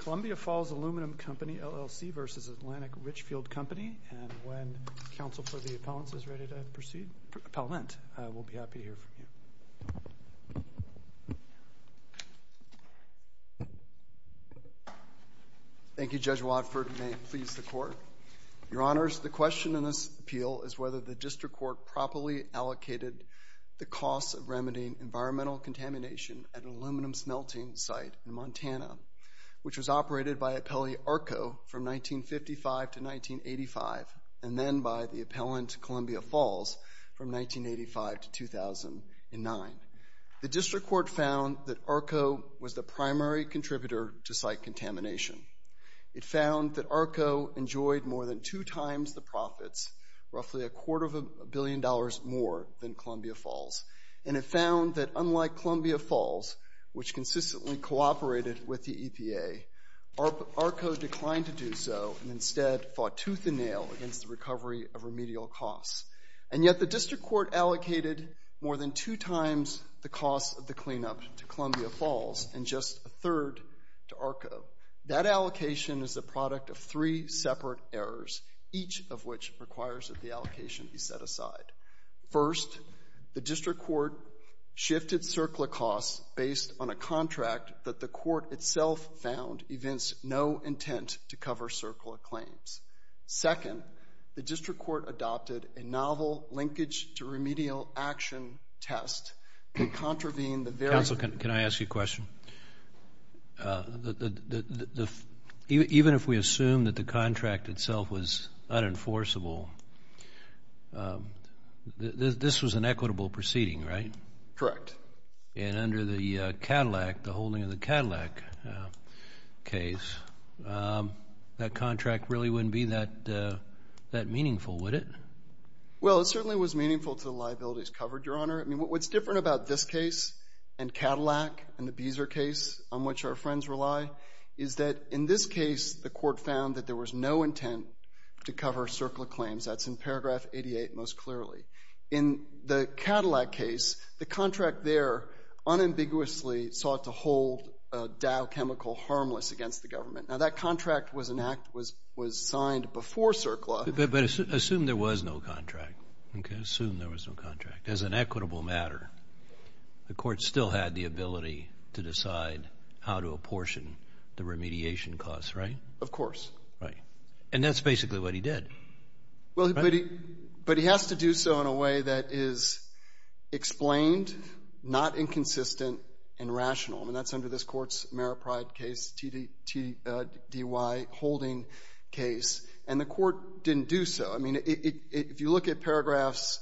Columbia Falls Aluminum Company, LLC v. Atlantic Richfield Company. And when counsel for the appellants is ready to proceed, Appellant, we'll be happy to hear from you. Thank you, Judge Watford. May it please the Court. Your Honors, the question in this appeal is whether the District Court properly allocated the costs of remedying environmental contamination at an aluminum smelting site in Montana, which was operated by Appellant ARCO from 1955 to 1985 and then by the Appellant Columbia Falls from 1985 to 2009. The District Court found that ARCO was the primary contributor to site contamination. It found that ARCO enjoyed more than two times the profits, roughly a quarter of a billion dollars more than Columbia Falls. And it found that unlike Columbia Falls, which consistently cooperated with the EPA, ARCO declined to do so and instead fought tooth and nail against the recovery of remedial costs. And yet the District Court allocated more than two times the cost of the cleanup to Columbia Falls and just a third to ARCO. That allocation is the product of three separate errors, each of which requires that the allocation be set aside. First, the District Court shifted CERCLA costs based on a contract that the Court itself found evinced no intent to cover CERCLA claims. Second, the District Court adopted a novel linkage to remedial action test that contravened the very... Counsel, can I ask you a question? Even if we assume that the contract itself was unenforceable, this was an equitable proceeding, right? Correct. And under the Cadillac, the holding of the Cadillac case, that contract really wouldn't be that meaningful, would it? Well, it certainly was meaningful to the liabilities covered, Your Honor. I mean, what's different about this case and Cadillac and the Beezer case, on which our friends rely, is that in this case the Court found that there was no intent to cover CERCLA claims. That's in paragraph 88 most clearly. In the Cadillac case, the contract there unambiguously sought to hold Dow Chemical harmless against the government. Now, that contract was signed before CERCLA. Assume there was no contract. As an equitable matter, the Court still had the ability to decide how to apportion the remediation costs, right? Of course. Right. And that's basically what he did. But he has to do so in a way that is explained, not inconsistent, and rational. I mean, that's under this Court's Merit Pride case, TDY holding case, and the Court didn't do so. I mean, if you look at paragraphs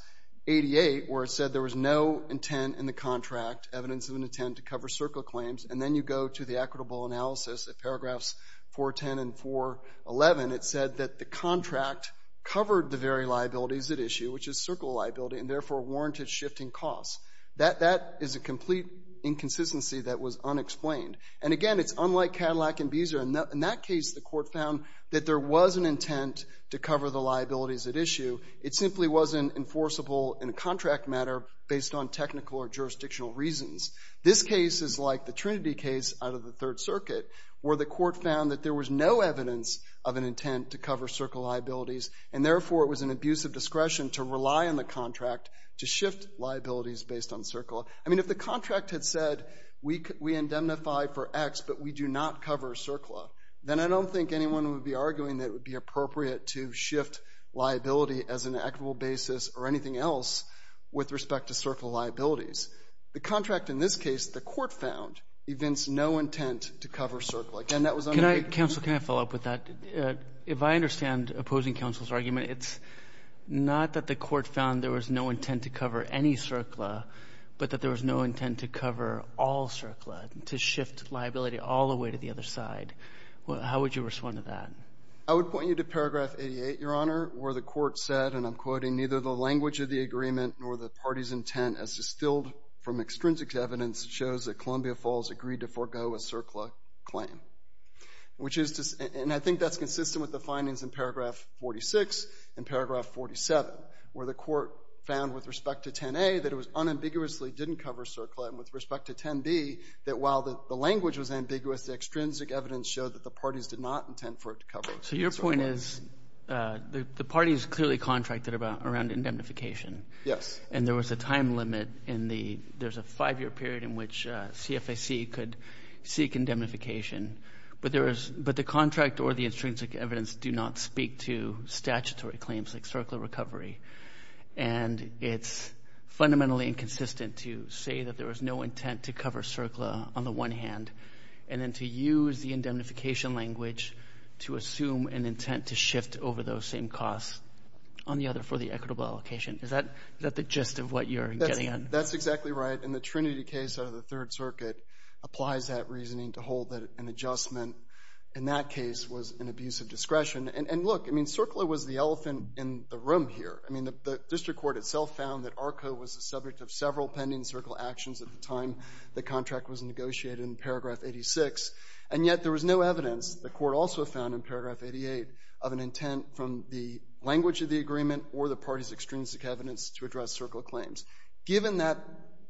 88, where it said there was no intent in the contract, evidence of an intent to cover CERCLA claims, and then you go to the equitable analysis at paragraphs 410 and 411, it said that the contract covered the very liabilities at issue, which is CERCLA liability, and therefore warranted shifting costs. That is a complete inconsistency that was unexplained. And again, it's unlike Cadillac and Beezer. In that case, the Court found that there was an intent to cover the liabilities at issue. It simply wasn't enforceable in a contract matter based on technical or jurisdictional reasons. This case is like the Trinity case out of the Third Circuit, where the Court found that there was no evidence of an intent to cover CERCLA liabilities, and therefore it was an abuse of discretion to rely on the contract to shift liabilities based on CERCLA. I mean, if the contract had said, we indemnify for X, but we do not cover CERCLA, then I don't think anyone would be arguing that it would be appropriate to shift liability as an equitable basis or anything else with respect to CERCLA liabilities. The contract in this case, the Court found, evinced no intent to cover CERCLA. And that was under the — Roberts. Can I follow up with that? If I understand opposing counsel's argument, it's not that the Court found there was no intent to cover any CERCLA, but that there was no intent to cover all CERCLA, to shift liability all the way to the other side. How would you respond to that? I would point you to paragraph 88, Your Honor, where the Court said, and I'm quoting, neither the language of the agreement nor the party's intent as distilled from extrinsic evidence shows that Columbia Falls agreed to forego a CERCLA claim. Which is — and I think that's consistent with the findings in paragraph 46 and paragraph 47, where the Court found with respect to 10a that it was unambiguously didn't cover CERCLA, and with respect to 10b, that while the language was ambiguous, the extrinsic evidence showed that the parties did not intend for it to cover it. So your point is the parties clearly contracted around indemnification. Yes. And there was a time limit in the — there's a five-year period in which CFAC could seek indemnification. But there is — but the contract or the extrinsic evidence do not speak to statutory claims like CERCLA recovery. And it's fundamentally inconsistent to say that there was no intent to cover CERCLA on the one hand, and then to use the indemnification language to assume an intent to shift over those same costs on the other for the equitable allocation. Is that the gist of what you're getting at? That's exactly right. And the Trinity case out of the Third Circuit applies that reasoning to hold that an adjustment in that case was an abuse of discretion. And look, I mean, CERCLA was the elephant in the room here. I mean, the district court itself found that ARCA was the subject of several pending CERCLA actions at the time the contract was negotiated in paragraph 86. And yet there was no evidence, the court also found in paragraph 88, of an intent from the language of the agreement or the parties' extrinsic evidence to address CERCLA claims. Given that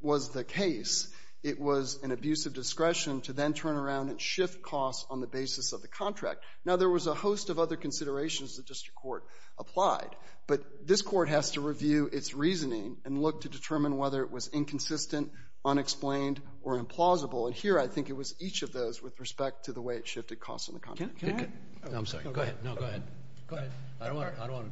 was the case, it was an abuse of discretion to then turn around and shift costs on the basis of the contract. Now, there was a host of other considerations the district court applied. But this court has to review its reasoning and look to determine whether it was inconsistent, unexplained, or implausible. And here I think it was each of those with respect to the way it shifted costs on the contract. Can I? No, I'm sorry. Go ahead. No, go ahead. Go ahead. I don't want to.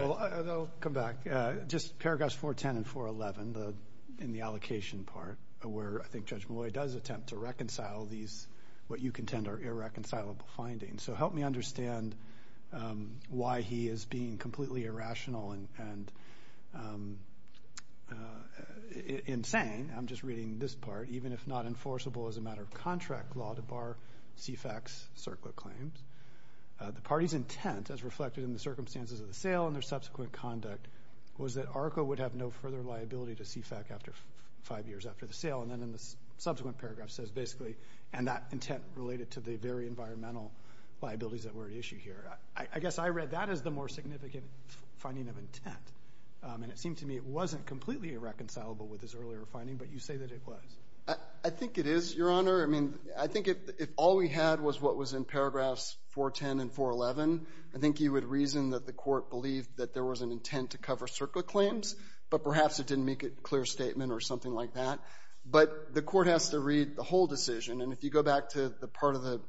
I'll come back. Just paragraphs 410 and 411 in the allocation part where I think Judge Malloy does attempt to reconcile these what you contend are irreconcilable findings. So help me understand why he is being completely irrational and insane. I'm just reading this part. Even if not enforceable as a matter of contract law to bar CFAC's CERCLA claims, the party's intent as reflected in the circumstances of the sale and their subsequent conduct was that ARCA would have no further liability to CFAC after five years after the sale. And then in the subsequent paragraph it says basically, and that intent related to the very environmental liabilities that were at issue here. I guess I read that as the more significant finding of intent. And it seemed to me it wasn't completely irreconcilable with his earlier finding, but you say that it was. I think it is, Your Honor. I mean, I think if all we had was what was in paragraphs 410 and 411, I think you would reason that the court believed that there was an intent to cover CERCLA claims, but perhaps it didn't make a clear statement or something like that. But the court has to read the whole decision. And if you go back to the part of the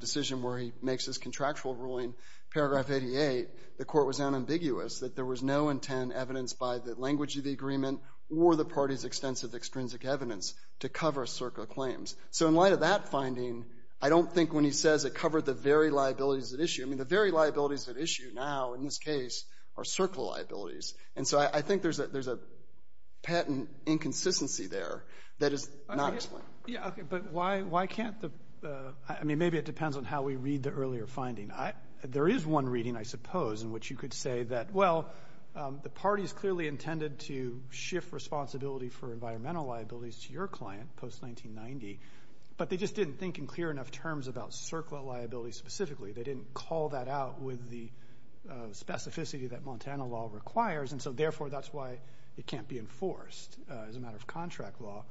decision where he makes his contractual ruling, paragraph 88, the court was unambiguous that there was no intent evidenced by the language of the agreement or the party's extensive extrinsic evidence to cover CERCLA claims. So in light of that finding, I don't think when he says it covered the very liabilities at issue, I mean the very liabilities at issue now in this case are CERCLA liabilities. And so I think there's a patent inconsistency there that is not explained. Okay. But why can't the – I mean, maybe it depends on how we read the earlier finding. There is one reading, I suppose, in which you could say that, well, the party's clearly intended to shift responsibility for environmental liabilities to your client post-1990, but they just didn't think in clear enough terms about CERCLA liabilities specifically. They didn't call that out with the specificity that Montana law requires, and so therefore that's why it can't be enforced as a matter of contract law.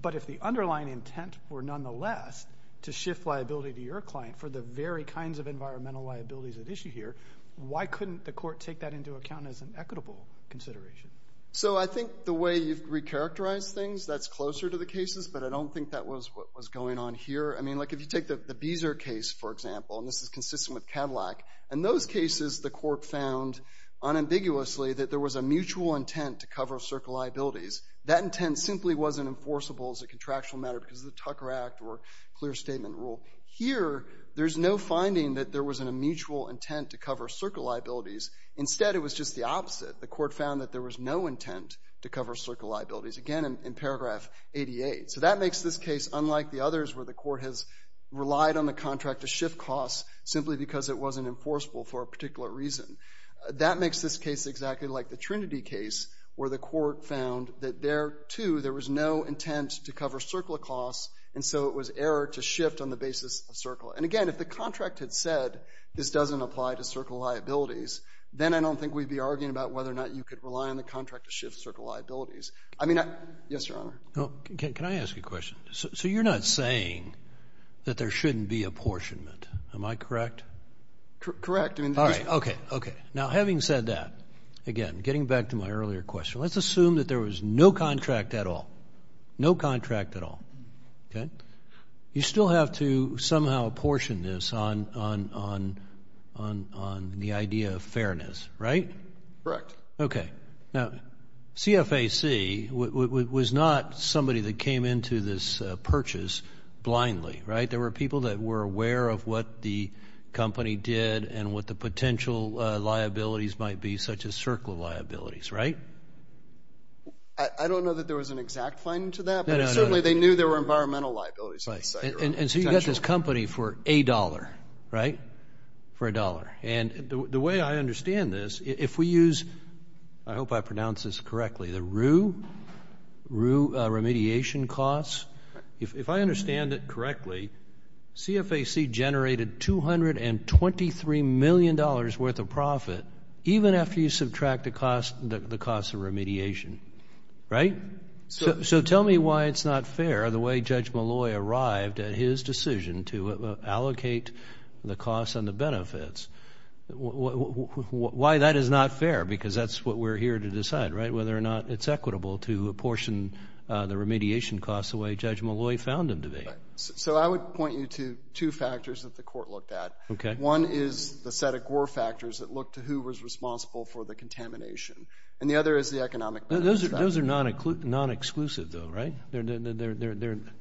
But if the underlying intent were nonetheless to shift liability to your client for the very kinds of environmental liabilities at issue here, why couldn't the court take that into account as an equitable consideration? So I think the way you've recharacterized things, that's closer to the cases, but I don't think that was what was going on here. I mean, like if you take the Beezer case, for example, and this is consistent with Cadillac, in those cases the court found unambiguously that there was a mutual intent to cover CERCLA liabilities. That intent simply wasn't enforceable as a contractual matter because of the Tucker Act or clear statement rule. Here, there's no finding that there was a mutual intent to cover CERCLA liabilities. Instead, it was just the opposite. The court found that there was no intent to cover CERCLA liabilities, again, in paragraph 88. So that makes this case unlike the others where the court has relied on the contract to shift costs simply because it wasn't enforceable for a particular reason. That makes this case exactly like the Trinity case where the court found that there, too, there was no intent to cover CERCLA costs, and so it was error to shift on the basis of CERCLA. And, again, if the contract had said this doesn't apply to CERCLA liabilities, then I don't think we'd be arguing about whether or not you could rely on the contract to shift CERCLA liabilities. I mean, yes, Your Honor. Can I ask you a question? So you're not saying that there shouldn't be apportionment. Am I correct? Correct. All right. Okay. Okay. Now, having said that, again, getting back to my earlier question, let's assume that there was no contract at all. No contract at all. Okay? You still have to somehow apportion this on the idea of fairness, right? Correct. Okay. Now, CFAC was not somebody that came into this purchase blindly, right? There were people that were aware of what the company did and what the potential liabilities might be, such as CERCLA liabilities, right? I don't know that there was an exact finding to that, but certainly they knew there were environmental liabilities. Right. And so you got this company for a dollar, right, for a dollar. And the way I understand this, if we use, I hope I pronounce this correctly, the RUE remediation costs, if I understand it correctly, CFAC generated $223 million worth of profit, even after you subtract the cost of remediation, right? So tell me why it's not fair the way Judge Malloy arrived at his decision to allocate the costs and the benefits. Why that is not fair, because that's what we're here to decide, right, whether or not it's equitable to apportion the remediation costs the way Judge Malloy found them to be. So I would point you to two factors that the court looked at. Okay. One is the set of GWER factors that looked to who was responsible for the contamination, and the other is the economic benefits factor. Those are non-exclusive, though, right? They're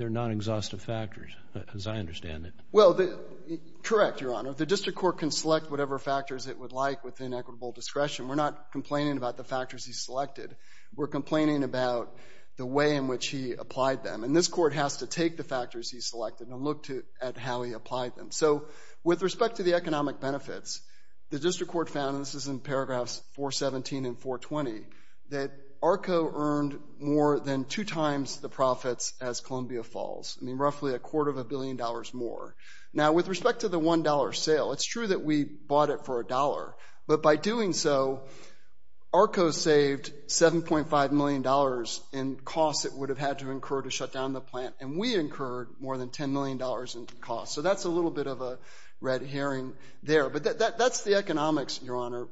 non-exhaustive factors, as I understand it. Well, correct, Your Honor. The district court can select whatever factors it would like within equitable discretion. We're not complaining about the factors he selected. We're complaining about the way in which he applied them. And this court has to take the factors he selected and look at how he applied them. So with respect to the economic benefits, the district court found, and this is in paragraphs 417 and 420, that ARCO earned more than two times the profits as Columbia Falls, roughly a quarter of a billion dollars more. Now, with respect to the $1 sale, it's true that we bought it for a dollar, but by doing so, ARCO saved $7.5 million in costs it would have had to incur to shut down the plant, and we incurred more than $10 million in costs. So that's a little bit of a red herring there. But that's the economics, Your Honor.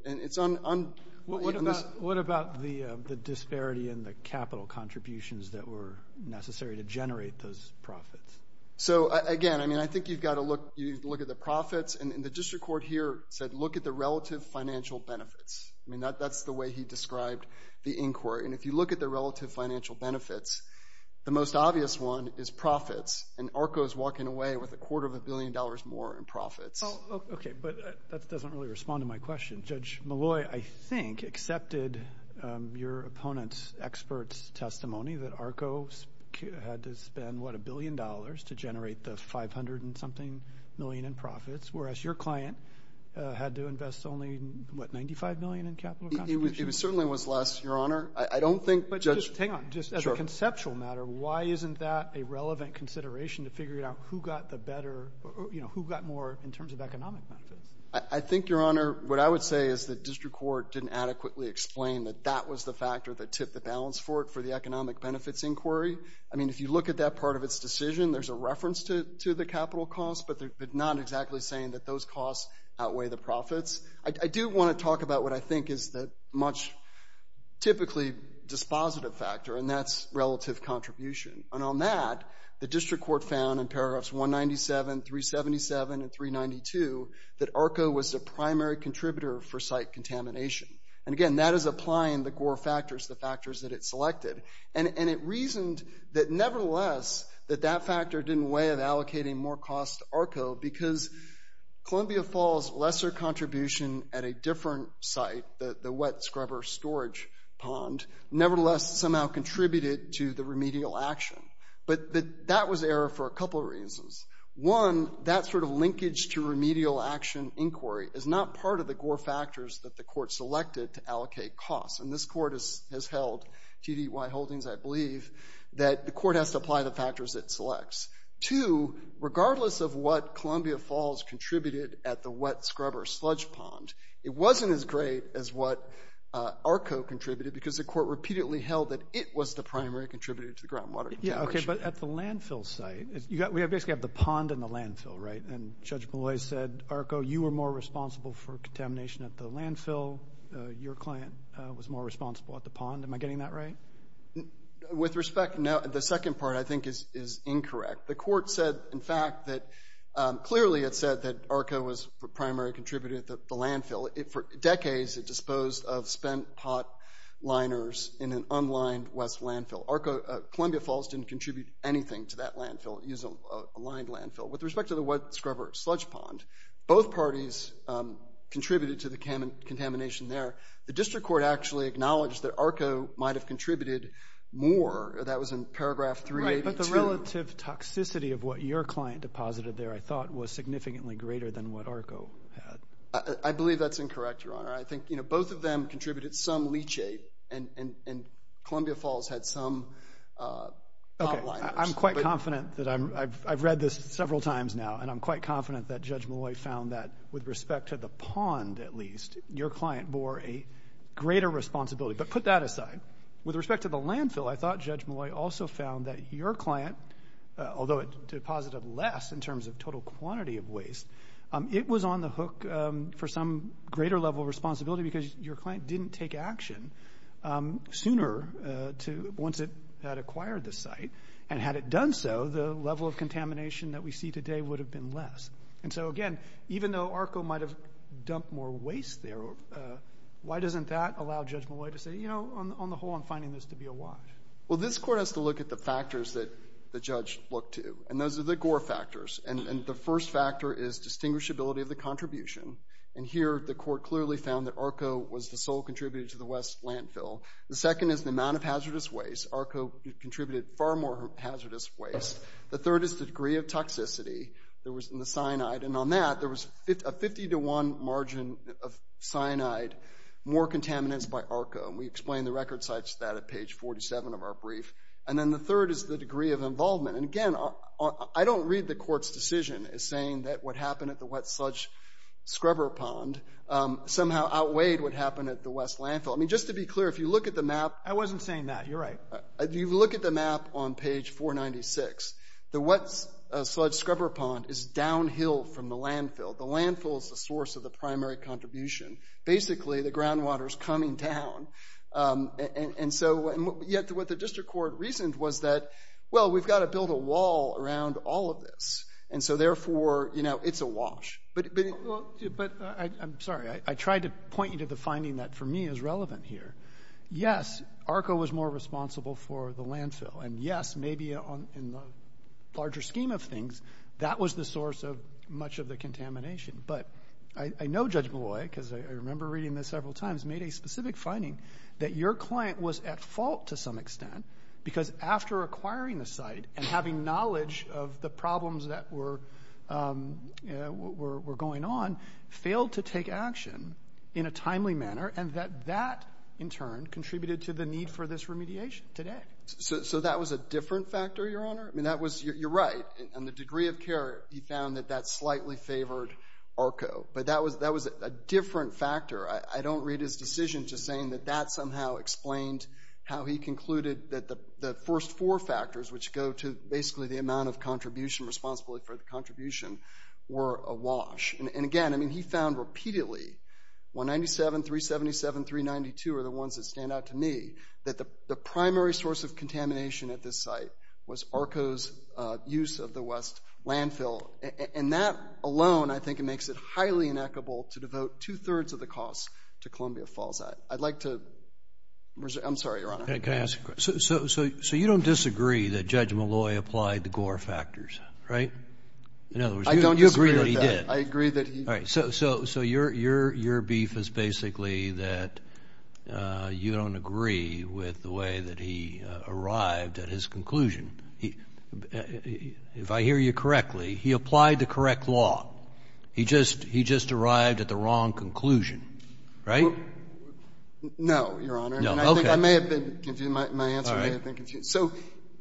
What about the disparity in the capital contributions that were necessary to generate those profits? So, again, I mean, I think you've got to look at the profits, and the district court here said look at the relative financial benefits. I mean, that's the way he described the inquiry. And if you look at the relative financial benefits, the most obvious one is profits, and ARCO is walking away with a quarter of a billion dollars more in profits. Okay, but that doesn't really respond to my question. Judge Malloy, I think, accepted your opponent's expert's testimony that ARCO had to spend, what, a billion dollars to generate the $500-and-something million in profits, whereas your client had to invest only, what, $95 million in capital contributions? It certainly was less, Your Honor. But just as a conceptual matter, why isn't that a relevant consideration to figure out who got the better, you know, who got more in terms of economic benefits? I think, Your Honor, what I would say is the district court didn't adequately explain that that was the factor that tipped the balance for it for the economic benefits inquiry. I mean, if you look at that part of its decision, there's a reference to the capital costs, but not exactly saying that those costs outweigh the profits. I do want to talk about what I think is the much typically dispositive factor, and that's relative contribution. And on that, the district court found in paragraphs 197, 377, and 392 that ARCO was the primary contributor for site contamination. And again, that is applying the Gore factors, the factors that it selected. And it reasoned that, nevertheless, that that factor didn't weigh in allocating more costs to ARCO because Columbia Falls' lesser contribution at a different site, the wet scrubber storage pond, nevertheless, somehow contributed to the remedial action. But that was error for a couple of reasons. One, that sort of linkage to remedial action inquiry is not part of the Gore factors that the court selected to allocate costs. And this court has held TDY holdings, I believe, that the court has to apply the factors it selects. Two, regardless of what Columbia Falls contributed at the wet scrubber sludge pond, it wasn't as great as what ARCO contributed because the court repeatedly held that it was the primary contributor to the groundwater contamination. But at the landfill site, we basically have the pond and the landfill, right? And Judge Malloy said, ARCO, you were more responsible for contamination at the landfill. Your client was more responsible at the pond. Am I getting that right? With respect, no. The second part, I think, is incorrect. The court said, in fact, that clearly it said that ARCO was the primary contributor at the landfill. For decades, it disposed of spent pot liners in an unlined west landfill. Columbia Falls didn't contribute anything to that landfill. It used a lined landfill. With respect to the wet scrubber sludge pond, both parties contributed to the contamination there. The district court actually acknowledged that ARCO might have contributed more. That was in paragraph 382. The relative toxicity of what your client deposited there, I thought, was significantly greater than what ARCO had. I believe that's incorrect, Your Honor. I think both of them contributed some leachate, and Columbia Falls had some pot liners. I'm quite confident that I've read this several times now, and I'm quite confident that Judge Malloy found that with respect to the pond, at least, your client bore a greater responsibility. But put that aside. With respect to the landfill, I thought Judge Malloy also found that your client, although it deposited less in terms of total quantity of waste, it was on the hook for some greater level of responsibility because your client didn't take action sooner once it had acquired the site. And had it done so, the level of contamination that we see today would have been less. And so, again, even though ARCO might have dumped more waste there, why doesn't that allow Judge Malloy to say, you know, on the whole, I'm finding this to be a lie? Well, this court has to look at the factors that the judge looked to, and those are the Gore factors. And the first factor is distinguishability of the contribution. And here the court clearly found that ARCO was the sole contributor to the West landfill. The second is the amount of hazardous waste. ARCO contributed far more hazardous waste. The third is the degree of toxicity that was in the cyanide. And on that, there was a 50 to 1 margin of cyanide, more contaminants by ARCO. And we explained the record sites to that at page 47 of our brief. And then the third is the degree of involvement. And, again, I don't read the court's decision as saying that what happened at the wet sludge scrubber pond somehow outweighed what happened at the West landfill. I mean, just to be clear, if you look at the map. I wasn't saying that. You're right. If you look at the map on page 496, the wet sludge scrubber pond is downhill from the landfill. The landfill is the source of the primary contribution. Basically, the groundwater is coming down. And so yet what the district court reasoned was that, well, we've got to build a wall around all of this. And so, therefore, you know, it's a wash. But I'm sorry. I tried to point you to the finding that, for me, is relevant here. Yes, ARCO was more responsible for the landfill. And, yes, maybe in the larger scheme of things, that was the source of much of the contamination. But I know Judge Malloy, because I remember reading this several times, made a specific finding that your client was at fault to some extent because after acquiring the site and having knowledge of the problems that were going on, failed to take action in a timely manner and that that, in turn, contributed to the need for this remediation today. So that was a different factor, Your Honor? I mean, you're right. On the degree of care, he found that that slightly favored ARCO. But that was a different factor. I don't read his decision just saying that that somehow explained how he concluded that the first four factors, which go to basically the amount of contribution, responsibility for the contribution, were a wash. And, again, I mean, he found repeatedly, 197, 377, 392 are the ones that stand out to me, that the primary source of contamination at this site was ARCO's use of the West landfill. And that alone, I think, makes it highly inequitable to devote two-thirds of the cost to Columbia Falls. I'd like to reserve – I'm sorry, Your Honor. Can I ask a question? So you don't disagree that Judge Malloy applied the Gore factors, right? I don't disagree with that. I agree that he – All right. So your beef is basically that you don't agree with the way that he arrived at his conclusion. If I hear you correctly, he applied the correct law. He just arrived at the wrong conclusion, right? No, Your Honor. Okay. I may have been confused. My answer may have been confused. So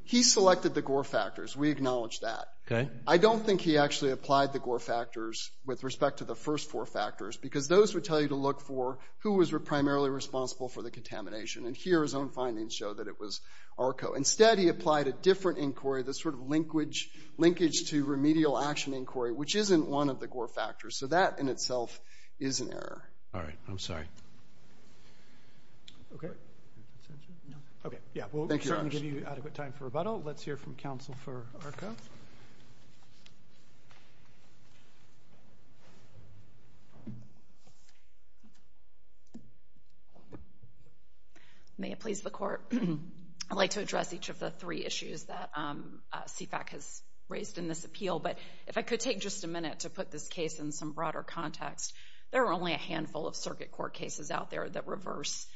he selected the Gore factors. We acknowledge that. Okay. I don't think he actually applied the Gore factors with respect to the first four factors because those would tell you to look for who was primarily responsible for the contamination. And here his own findings show that it was ARCO. Instead, he applied a different inquiry, the sort of linkage to remedial action inquiry, which isn't one of the Gore factors. So that in itself is an error. I'm sorry. Okay. Okay. Thank you, Your Honor. We'll certainly give you adequate time for rebuttal. Let's hear from Counsel for ARCO. May it please the Court. I'd like to address each of the three issues that CFAC has raised in this appeal. But if I could take just a minute to put this case in some broader context, there are only a handful of circuit court cases out there that reverse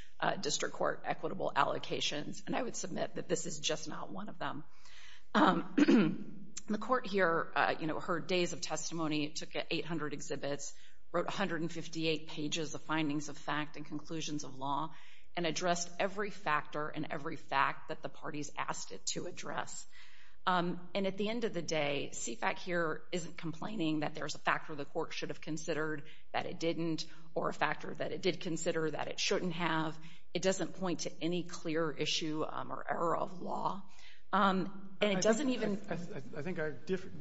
district court equitable allocations. And I would submit that this is just not one of them. The Court here, you know, heard days of testimony. It took 800 exhibits, wrote 158 pages of findings of fact and conclusions of law, and addressed every factor and every fact that the parties asked it to address. And at the end of the day, CFAC here isn't complaining that there's a factor the court should have considered that it didn't or a factor that it did consider that it shouldn't have. It doesn't point to any clear issue or error of law. And it doesn't even— I think I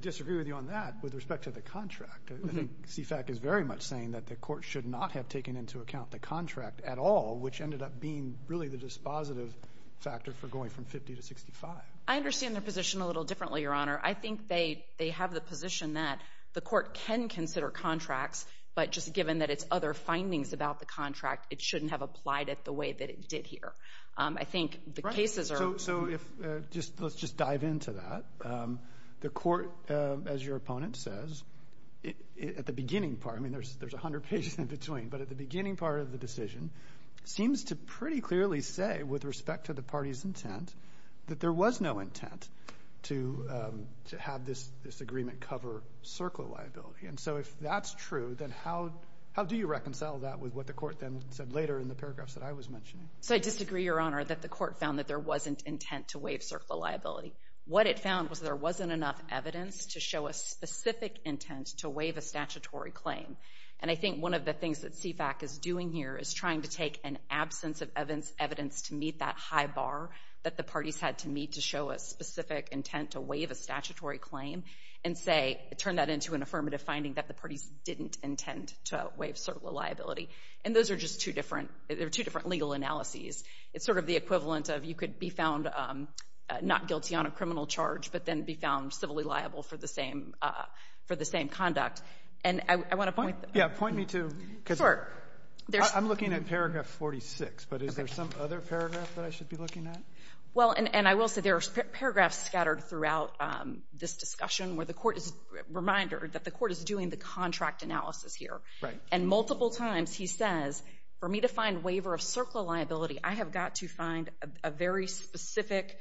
disagree with you on that with respect to the contract. I think CFAC is very much saying that the court should not have taken into account the contract at all, which ended up being really the dispositive factor for going from 50 to 65. I understand their position a little differently, Your Honor. I think they have the position that the court can consider contracts, but just given that it's other findings about the contract, it shouldn't have applied it the way that it did here. I think the cases are— So let's just dive into that. The court, as your opponent says, at the beginning part— I mean, there's 100 pages in between, but at the beginning part of the decision, seems to pretty clearly say, with respect to the party's intent, that there was no intent to have this agreement cover CERCLA liability. And so if that's true, then how do you reconcile that with what the court then said later in the paragraphs that I was mentioning? So I disagree, Your Honor, that the court found that there wasn't intent to waive CERCLA liability. What it found was there wasn't enough evidence to show a specific intent to waive a statutory claim. And I think one of the things that CFAC is doing here is trying to take an absence of evidence to meet that high bar that the parties had to meet to show a specific intent to waive a statutory claim and say—turn that into an affirmative finding that the parties didn't intend to waive CERCLA liability. And those are just two different legal analyses. It's sort of the equivalent of you could be found not guilty on a criminal charge, but then be found civilly liable for the same conduct. And I want to point— Yeah, point me to— Sure. I'm looking at paragraph 46, but is there some other paragraph that I should be looking at? Well, and I will say there are paragraphs scattered throughout this discussion where the court is—reminder that the court is doing the contract analysis here. Right. And multiple times he says, for me to find waiver of CERCLA liability, I have got to find a very specific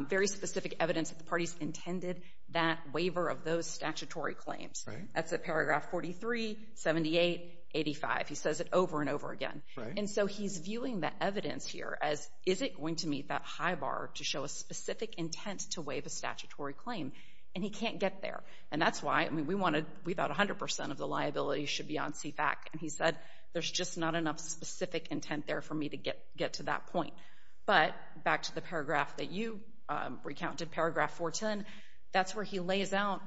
evidence that the parties intended that waiver of those statutory claims. That's at paragraph 43, 78, 85. He says it over and over again. Right. And so he's viewing the evidence here as, is it going to meet that high bar to show a specific intent to waive a statutory claim? And he can't get there. And that's why—I mean, we want to—we thought 100 percent of the liability should be on CFAC. And he said, there's just not enough specific intent there for me to get to that point. But back to the paragraph that you recounted, paragraph 410, that's where he lays out—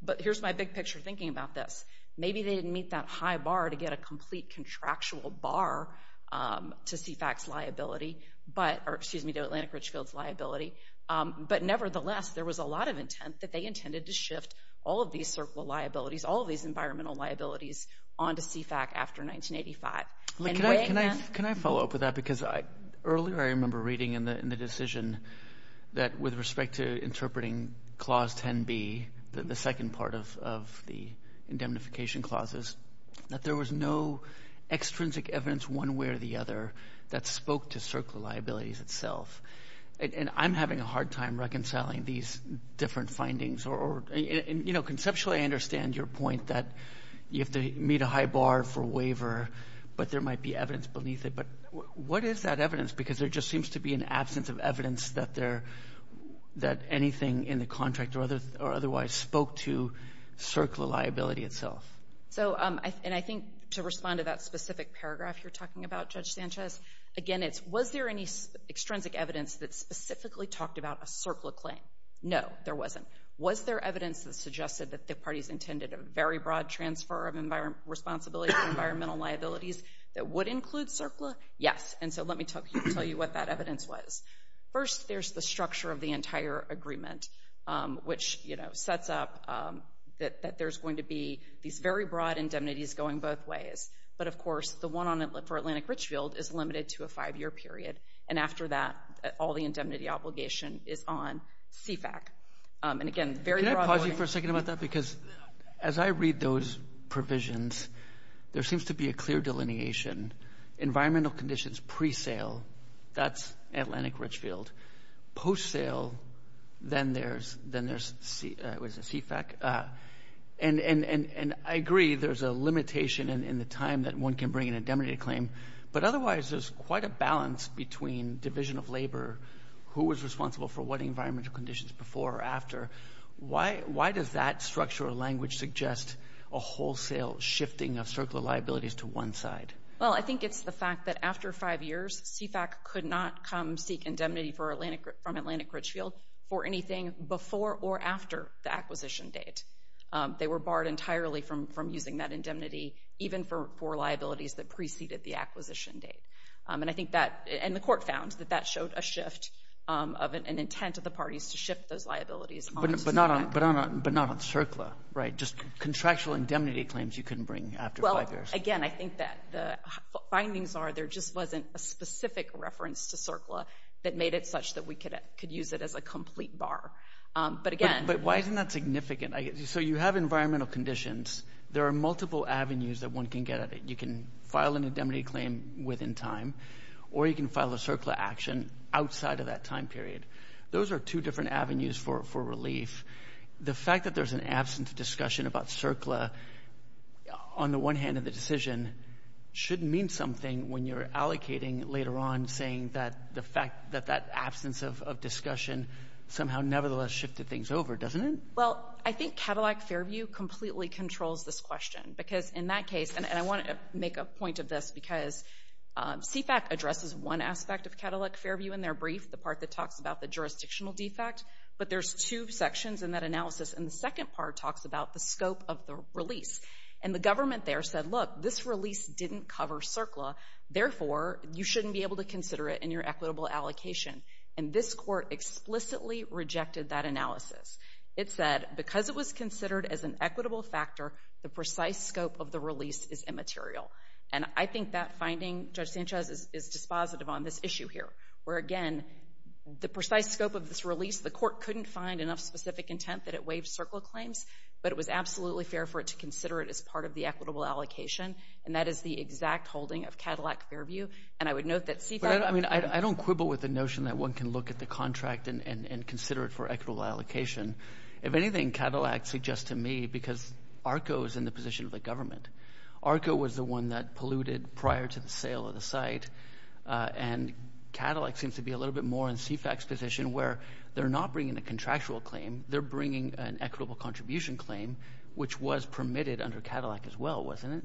but here's my big picture thinking about this. Maybe they didn't meet that high bar to get a complete contractual bar to CFAC's liability, or excuse me, to Atlantic Richfield's liability. But nevertheless, there was a lot of intent that they intended to shift all of these CERCLA liabilities, all of these environmental liabilities onto CFAC after 1985. Can I follow up with that? Because earlier I remember reading in the decision that with respect to interpreting Clause 10B, the second part of the indemnification clauses, that there was no extrinsic evidence one way or the other that spoke to CERCLA liabilities itself. And I'm having a hard time reconciling these different findings. And, you know, conceptually I understand your point that you have to meet a high bar for waiver, but there might be evidence beneath it. But what is that evidence? Because there just seems to be an absence of evidence that there— otherwise spoke to CERCLA liability itself. So, and I think to respond to that specific paragraph you're talking about, Judge Sanchez, again, it's was there any extrinsic evidence that specifically talked about a CERCLA claim? No, there wasn't. Was there evidence that suggested that the parties intended a very broad transfer of responsibility for environmental liabilities that would include CERCLA? Yes. And so let me tell you what that evidence was. First, there's the structure of the entire agreement, which, you know, sets up that there's going to be these very broad indemnities going both ways. But, of course, the one for Atlantic Richfield is limited to a five-year period. And after that, all the indemnity obligation is on CFAC. And, again, very broad— Can I pause you for a second about that? Because as I read those provisions, there seems to be a clear delineation. Environmental conditions pre-sale, that's Atlantic Richfield. Post-sale, then there's CFAC. And I agree there's a limitation in the time that one can bring in a indemnity claim, but otherwise there's quite a balance between division of labor, who was responsible for what environmental conditions before or after. Why does that structure or language suggest a wholesale shifting of CERCLA liabilities to one side? Well, I think it's the fact that after five years, CFAC could not come seek indemnity from Atlantic Richfield for anything before or after the acquisition date. They were barred entirely from using that indemnity, even for liabilities that preceded the acquisition date. And I think that—and the court found that that showed a shift of an intent of the parties to shift those liabilities onto CFAC. But not on CERCLA, right? Just contractual indemnity claims you couldn't bring after five years. Again, I think that the findings are there just wasn't a specific reference to CERCLA that made it such that we could use it as a complete bar. But again— But why isn't that significant? So you have environmental conditions. There are multiple avenues that one can get at it. You can file an indemnity claim within time, or you can file a CERCLA action outside of that time period. Those are two different avenues for relief. The fact that there's an absence of discussion about CERCLA, on the one hand of the decision, should mean something when you're allocating later on, saying that the fact that that absence of discussion somehow nevertheless shifted things over, doesn't it? Well, I think Cadillac Fairview completely controls this question because in that case—and I want to make a point of this because CFAC addresses one aspect of Cadillac Fairview in their brief, the part that talks about the jurisdictional defect. But there's two sections in that analysis, and the second part talks about the scope of the release. And the government there said, look, this release didn't cover CERCLA, therefore you shouldn't be able to consider it in your equitable allocation. And this court explicitly rejected that analysis. It said, because it was considered as an equitable factor, the precise scope of the release is immaterial. And I think that finding, Judge Sanchez, is dispositive on this issue here, where, again, the precise scope of this release, the court couldn't find enough specific intent that it waived CERCLA claims, but it was absolutely fair for it to consider it as part of the equitable allocation, and that is the exact holding of Cadillac Fairview. And I would note that CFAC— But I don't quibble with the notion that one can look at the contract and consider it for equitable allocation. If anything, Cadillac suggests to me, because ARCO is in the position of the government. ARCO was the one that polluted prior to the sale of the site, and Cadillac seems to be a little bit more in CFAC's position where they're not bringing a contractual claim. They're bringing an equitable contribution claim, which was permitted under Cadillac as well, wasn't it?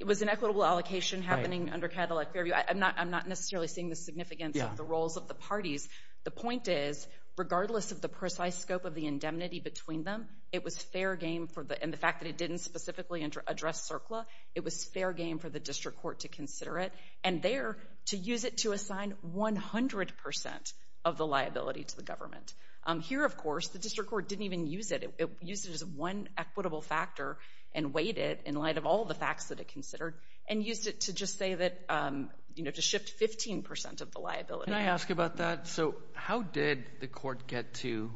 It was an equitable allocation happening under Cadillac Fairview. I'm not necessarily seeing the significance of the roles of the parties. The point is, regardless of the precise scope of the indemnity between them, it was fair game for the— and the fact that it didn't specifically address CERCLA, it was fair game for the district court to consider it and there to use it to assign 100% of the liability to the government. Here, of course, the district court didn't even use it. It used it as one equitable factor and weighed it in light of all the facts that it considered and used it to just say that— you know, to shift 15% of the liability. Can I ask about that? So how did the court get to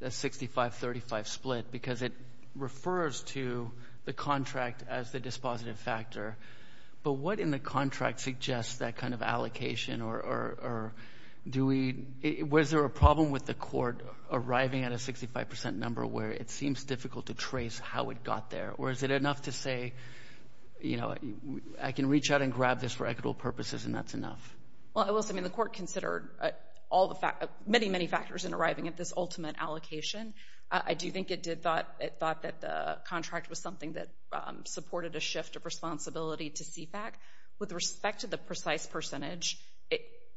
the 65-35 split? Because it refers to the contract as the dispositive factor. But what in the contract suggests that kind of allocation or do we—was there a problem with the court arriving at a 65% number where it seems difficult to trace how it got there? Or is it enough to say, you know, I can reach out and grab this for equitable purposes and that's enough? Well, I will say, I mean, the court considered many, many factors in arriving at this ultimate allocation. I do think it thought that the contract was something that supported a shift of responsibility to CFAC. With respect to the precise percentage,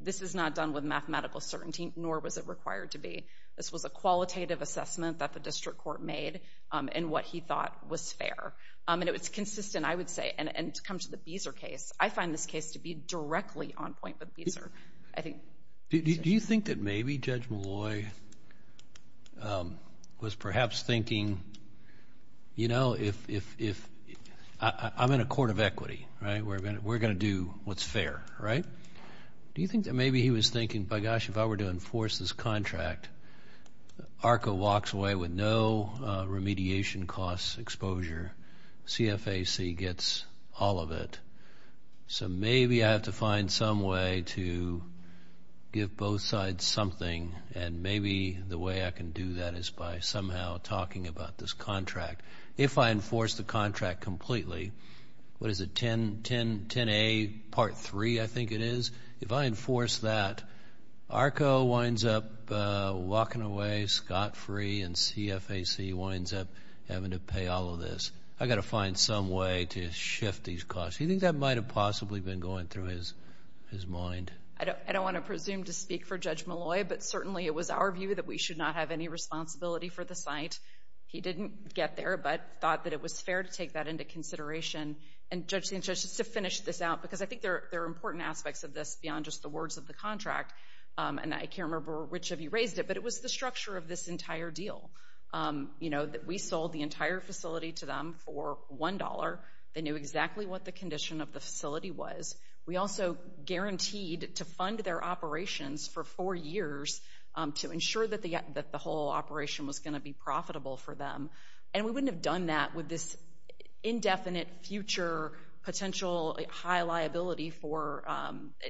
this is not done with mathematical certainty, nor was it required to be. This was a qualitative assessment that the district court made and what he thought was fair. And it was consistent, I would say, and to come to the Beezer case, I find this case to be directly on point with Beezer. I think— Do you think that maybe Judge Malloy was perhaps thinking, you know, if—I'm in a court of equity, right? We're going to do what's fair, right? Do you think that maybe he was thinking, by gosh, if I were to enforce this contract, ARCA walks away with no remediation costs exposure, CFAC gets all of it. So maybe I have to find some way to give both sides something and maybe the way I can do that is by somehow talking about this contract. If I enforce the contract completely, what is it, 10A Part 3, I think it is, if I enforce that, ARCA winds up walking away scot-free and CFAC winds up having to pay all of this. I've got to find some way to shift these costs. Do you think that might have possibly been going through his mind? I don't want to presume to speak for Judge Malloy, but certainly it was our view that we should not have any responsibility for the site. He didn't get there, but thought that it was fair to take that into consideration. And, Judge St. George, just to finish this out, because I think there are important aspects of this beyond just the words of the contract, and I can't remember which of you raised it, but it was the structure of this entire deal, you know, that we sold the entire facility to them for $1. They knew exactly what the condition of the facility was. We also guaranteed to fund their operations for four years to ensure that the whole operation was going to be profitable for them. And we wouldn't have done that with this indefinite future potential high liability for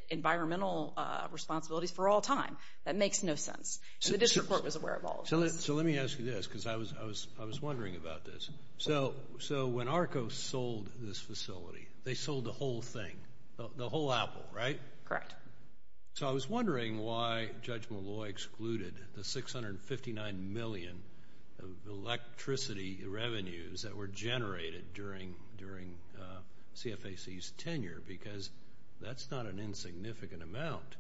environmental responsibilities for all time. That makes no sense. And the district court was aware of all of this. So let me ask you this, because I was wondering about this. So when ARCO sold this facility, they sold the whole thing, the whole apple, right? Correct. So I was wondering why Judge Molloy excluded the $659 million of electricity revenues that were generated during CFAC's tenure, because that's not an insignificant amount.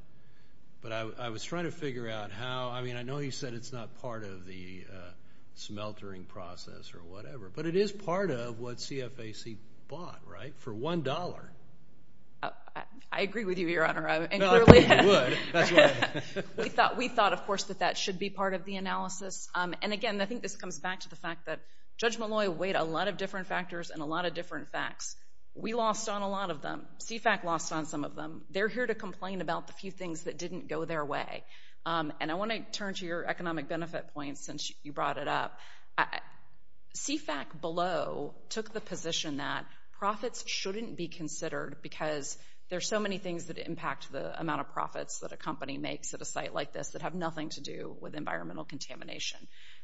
But I was trying to figure out how. I mean, I know you said it's not part of the smeltering process or whatever, but it is part of what CFAC bought, right, for $1. I agree with you, Your Honor. No, I think you would. We thought, of course, that that should be part of the analysis. And, again, I think this comes back to the fact that Judge Molloy weighed a lot of different factors and a lot of different facts. We lost on a lot of them. CFAC lost on some of them. They're here to complain about the few things that didn't go their way. And I want to turn to your economic benefit point since you brought it up. CFAC below took the position that profits shouldn't be considered because there are so many things that impact the amount of profits that a company makes at a site like this that have nothing to do with environmental contamination.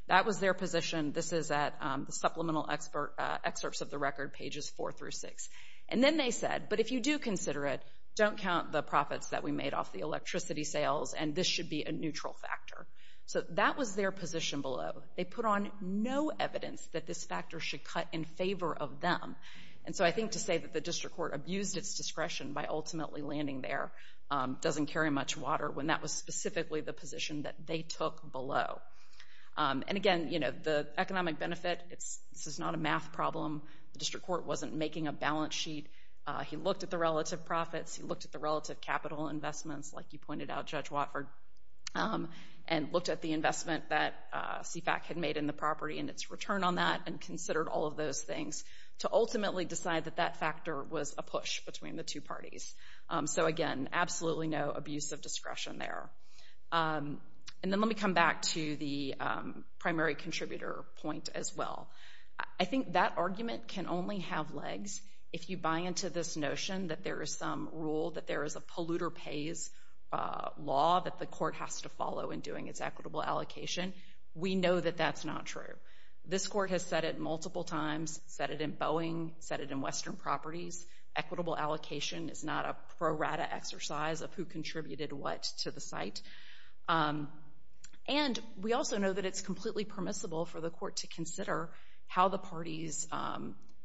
That was their position. This is at the supplemental excerpts of the record, pages 4 through 6. And then they said, but if you do consider it, don't count the profits that we made off the electricity sales, and this should be a neutral factor. So that was their position below. They put on no evidence that this factor should cut in favor of them. And so I think to say that the district court abused its discretion by ultimately landing there doesn't carry much water when that was specifically the position that they took below. And, again, the economic benefit, this is not a math problem. The district court wasn't making a balance sheet. He looked at the relative profits. He looked at the relative capital investments, like you pointed out, Judge Watford, and looked at the investment that CFAC had made in the property and its return on that and considered all of those things to ultimately decide that that factor was a push between the two parties. So, again, absolutely no abuse of discretion there. And then let me come back to the primary contributor point as well. I think that argument can only have legs if you buy into this notion that there is some rule, that there is a polluter pays law that the court has to follow in doing its equitable allocation. We know that that's not true. This court has said it multiple times, said it in Boeing, said it in Western Properties. Equitable allocation is not a pro rata exercise of who contributed what to the site. And we also know that it's completely permissible for the court to consider how the party's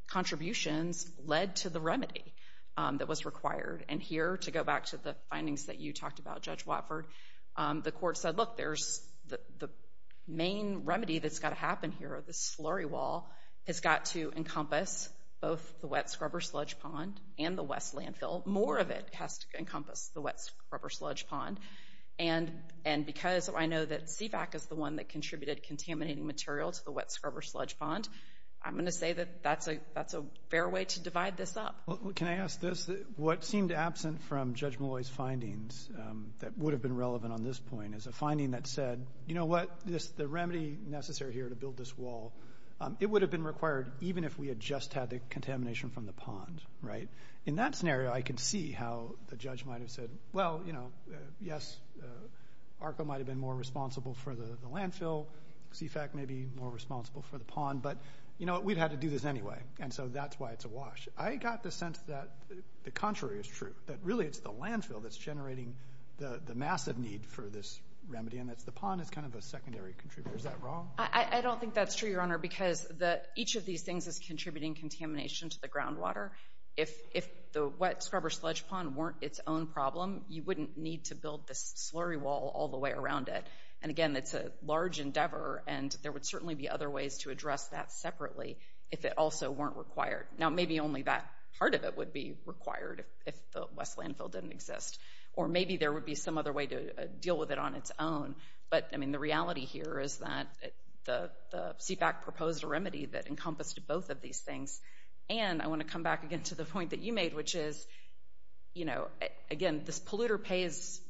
contributions led to the remedy that was required. And here, to go back to the findings that you talked about, Judge Watford, the court said, look, the main remedy that's got to happen here, this slurry wall, has got to encompass both the wet scrubber sludge pond and the west landfill. More of it has to encompass the wet scrubber sludge pond. And because I know that CFAC is the one that contributed contaminating material to the wet scrubber sludge pond, I'm going to say that that's a fair way to divide this up. Can I ask this? What seemed absent from Judge Malloy's findings that would have been relevant on this point is a finding that said, you know what, the remedy necessary here to build this wall, it would have been required even if we had just had the contamination from the pond, right? In that scenario, I can see how the judge might have said, well, you know, yes, ARCO might have been more responsible for the landfill. CFAC may be more responsible for the pond. But, you know what, we'd have to do this anyway. And so that's why it's a wash. I got the sense that the contrary is true, that really it's the landfill that's generating the massive need for this remedy, and it's the pond that's kind of a secondary contributor. Is that wrong? I don't think that's true, Your Honor, because each of these things is contributing contamination to the groundwater. If the wet scrubber sludge pond weren't its own problem, you wouldn't need to build this slurry wall all the way around it. And, again, it's a large endeavor, and there would certainly be other ways to address that separately if it also weren't required. Now, maybe only that part of it would be required if the West landfill didn't exist. Or maybe there would be some other way to deal with it on its own. But, I mean, the reality here is that the CFAC proposed a remedy that encompassed both of these things. And I want to come back again to the point that you made, which is, you know, again, this polluter pays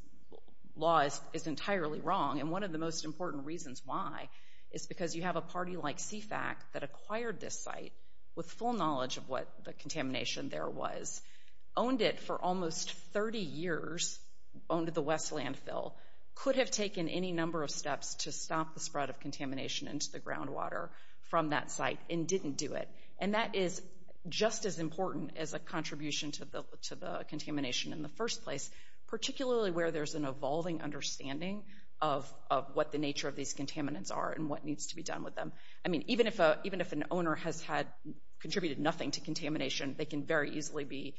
law is entirely wrong. And one of the most important reasons why is because you have a party like CFAC that acquired this site with full knowledge of what the contamination there was, owned it for almost 30 years, owned the West landfill, could have taken any number of steps to stop the spread of contamination into the groundwater from that site, and didn't do it. And that is just as important as a contribution to the contamination in the first place, particularly where there's an evolving understanding of what the nature of these contaminants are and what needs to be done with them. I mean, even if an owner has contributed nothing to contamination, they can very easily be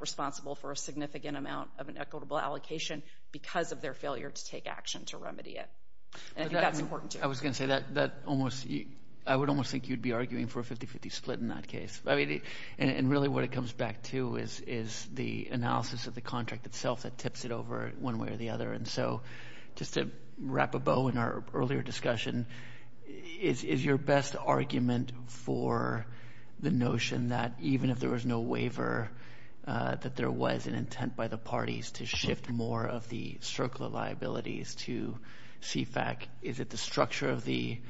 responsible for a significant amount of an equitable allocation because of their failure to take action to remedy it. And I think that's important, too. I was going to say that I would almost think you'd be arguing for a 50-50 split in that case. I mean, and really what it comes back to is the analysis of the contract itself that tips it over one way or the other. And so just to wrap a bow in our earlier discussion, is your best argument for the notion that even if there was no waiver, that there was an intent by the parties to shift more of the circular liabilities to CFAC? Is it the structure of the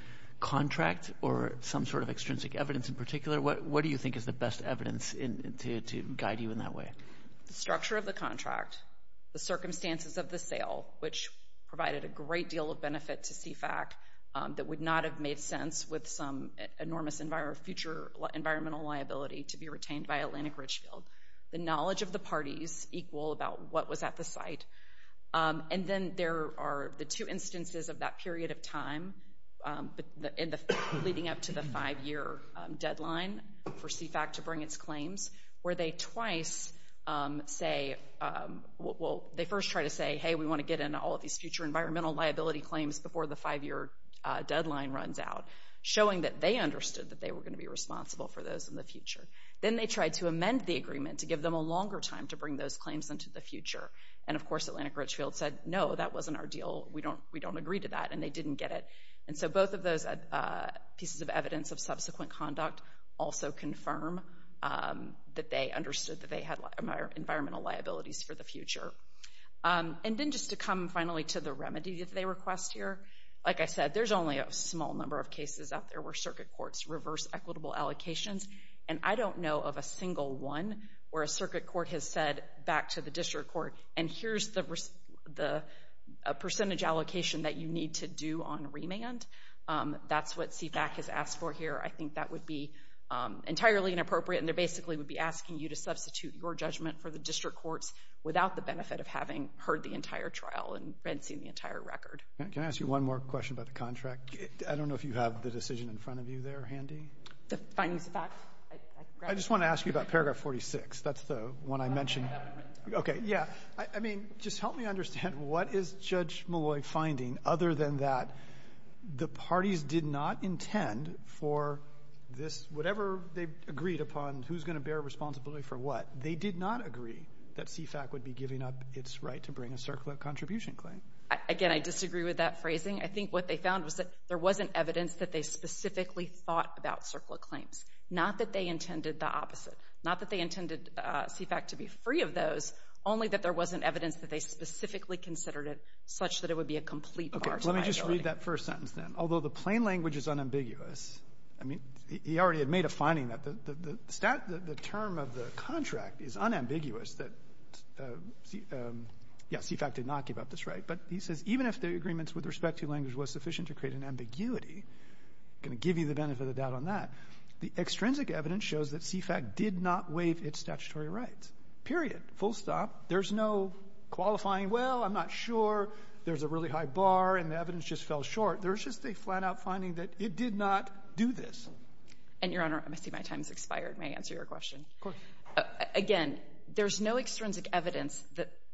contract or some sort of extrinsic evidence in particular? What do you think is the best evidence to guide you in that way? The structure of the contract, the circumstances of the sale, which provided a great deal of benefit to CFAC that would not have made sense with some enormous future environmental liability to be retained by Atlantic Richfield. The knowledge of the parties equal about what was at the site. And then there are the two instances of that period of time leading up to the five-year deadline for CFAC to bring its claims, where they first try to say, hey, we want to get in all of these future environmental liability claims before the five-year deadline runs out, showing that they understood that they were going to be responsible for those in the future. Then they tried to amend the agreement to give them a longer time to bring those claims into the future. And, of course, Atlantic Richfield said, no, that wasn't our deal. We don't agree to that, and they didn't get it. And so both of those pieces of evidence of subsequent conduct also confirm that they understood that they had environmental liabilities for the future. And then just to come finally to the remedy that they request here, like I said, there's only a small number of cases out there where circuit courts reverse equitable allocations. And I don't know of a single one where a circuit court has said back to the district court, and here's the percentage allocation that you need to do on remand. That's what CFAC has asked for here. I think that would be entirely inappropriate, and they basically would be asking you to substitute your judgment for the district court's without the benefit of having heard the entire trial and seen the entire record. Can I ask you one more question about the contract? I don't know if you have the decision in front of you there handy. The findings of fact? I just want to ask you about paragraph 46. That's the one I mentioned. Okay, yeah. I mean, just help me understand what is Judge Malloy finding other than that the parties did not intend for this, whatever they agreed upon, who's going to bear responsibility for what? They did not agree that CFAC would be giving up its right to bring a circular contribution claim. Again, I disagree with that phrasing. I think what they found was that there wasn't evidence that they specifically thought about circular claims, not that they intended the opposite, not that they intended CFAC to be free of those, only that there wasn't evidence that they specifically considered it such that it would be a complete bar to liability. Okay, let me just read that first sentence then. Although the plain language is unambiguous, I mean, he already had made a finding that the term of the contract is unambiguous. Yeah, CFAC did not give up its right. But he says even if the agreements with respect to language was sufficient to create an ambiguity, I'm going to give you the benefit of the doubt on that, the extrinsic evidence shows that CFAC did not waive its statutory rights, period, full stop. There's no qualifying, well, I'm not sure, there's a really high bar, and the evidence just fell short. There's just a flat-out finding that it did not do this. And, Your Honor, I see my time has expired. May I answer your question? Of course. Again, there's no extrinsic evidence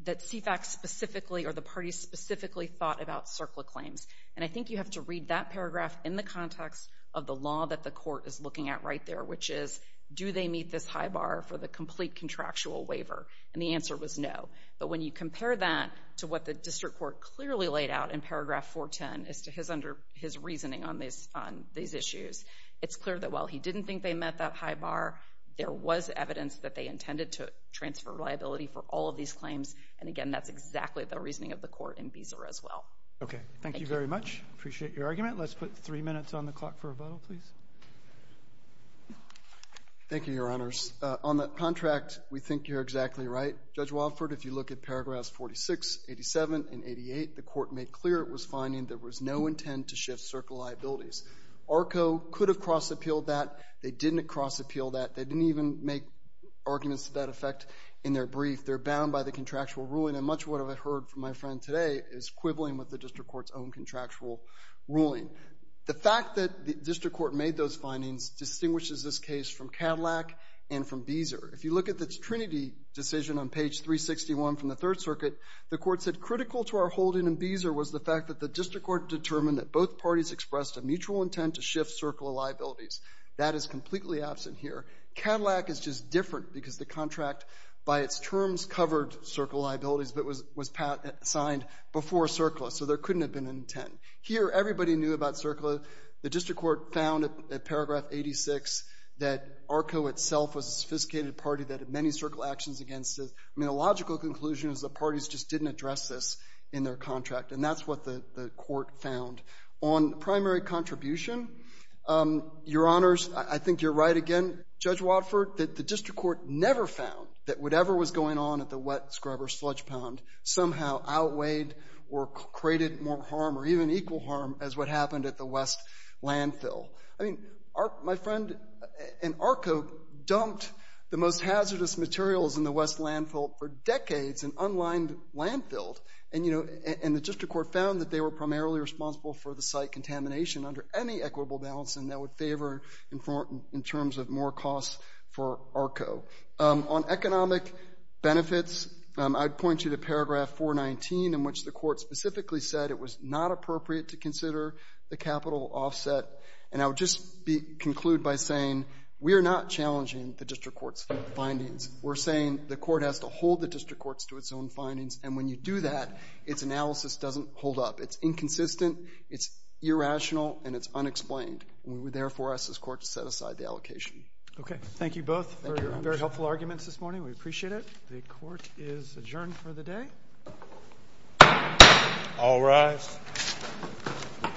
that CFAC specifically or the party specifically thought about CERCLA claims. And I think you have to read that paragraph in the context of the law that the court is looking at right there, which is, do they meet this high bar for the complete contractual waiver? And the answer was no. But when you compare that to what the district court clearly laid out in paragraph 410 as to his reasoning on these issues, it's clear that while he didn't think they met that high bar, there was evidence that they intended to transfer liability for all of these claims. And, again, that's exactly the reasoning of the court in Beezer as well. Okay. Thank you very much. Appreciate your argument. Let's put three minutes on the clock for rebuttal, please. Thank you, Your Honors. On the contract, we think you're exactly right. Judge Walford, if you look at paragraphs 46, 87, and 88, the court made clear it was finding there was no intent to shift CERCLA liabilities. ARCO could have cross-appealed that. They didn't cross-appeal that. They didn't even make arguments to that effect in their brief. They're bound by the contractual ruling, and much of what I heard from my friend today is equivalent with the district court's own contractual ruling. The fact that the district court made those findings distinguishes this case from Cadillac and from Beezer. If you look at the Trinity decision on page 361 from the Third Circuit, the court said, critical to our holding in Beezer was the fact that the district court determined that both parties expressed a mutual intent to shift CERCLA liabilities. That is completely absent here. Cadillac is just different because the contract, by its terms, covered CERCLA liabilities, but was signed before CERCLA, so there couldn't have been an intent. Here, everybody knew about CERCLA. The district court found at paragraph 86 that ARCO itself was a sophisticated party that had many CERCLA actions against it. I mean, a logical conclusion is the parties just didn't address this in their contract, and that's what the court found. On primary contribution, Your Honors, I think you're right again, Judge Watford, that the district court never found that whatever was going on at the wet scrubber sludge pound somehow outweighed or created more harm or even equal harm as what happened at the West landfill. I mean, my friend, and ARCO dumped the most hazardous materials in the West landfill for decades in unlined landfill, and, you know, and the district court found that they were primarily responsible for the site contamination under any equitable balance, and that would favor in terms of more costs for ARCO. On economic benefits, I'd point you to paragraph 419 in which the court specifically said it was not appropriate to consider the capital offset, and I would just conclude by saying we are not challenging the district court's findings. We're saying the court has to hold the district court to its own findings, and when you do that, its analysis doesn't hold up. It's inconsistent, it's irrational, and it's unexplained. We would therefore ask this court to set aside the allocation. Okay. Thank you both for your very helpful arguments this morning. We appreciate it. The court is adjourned for the day. All rise.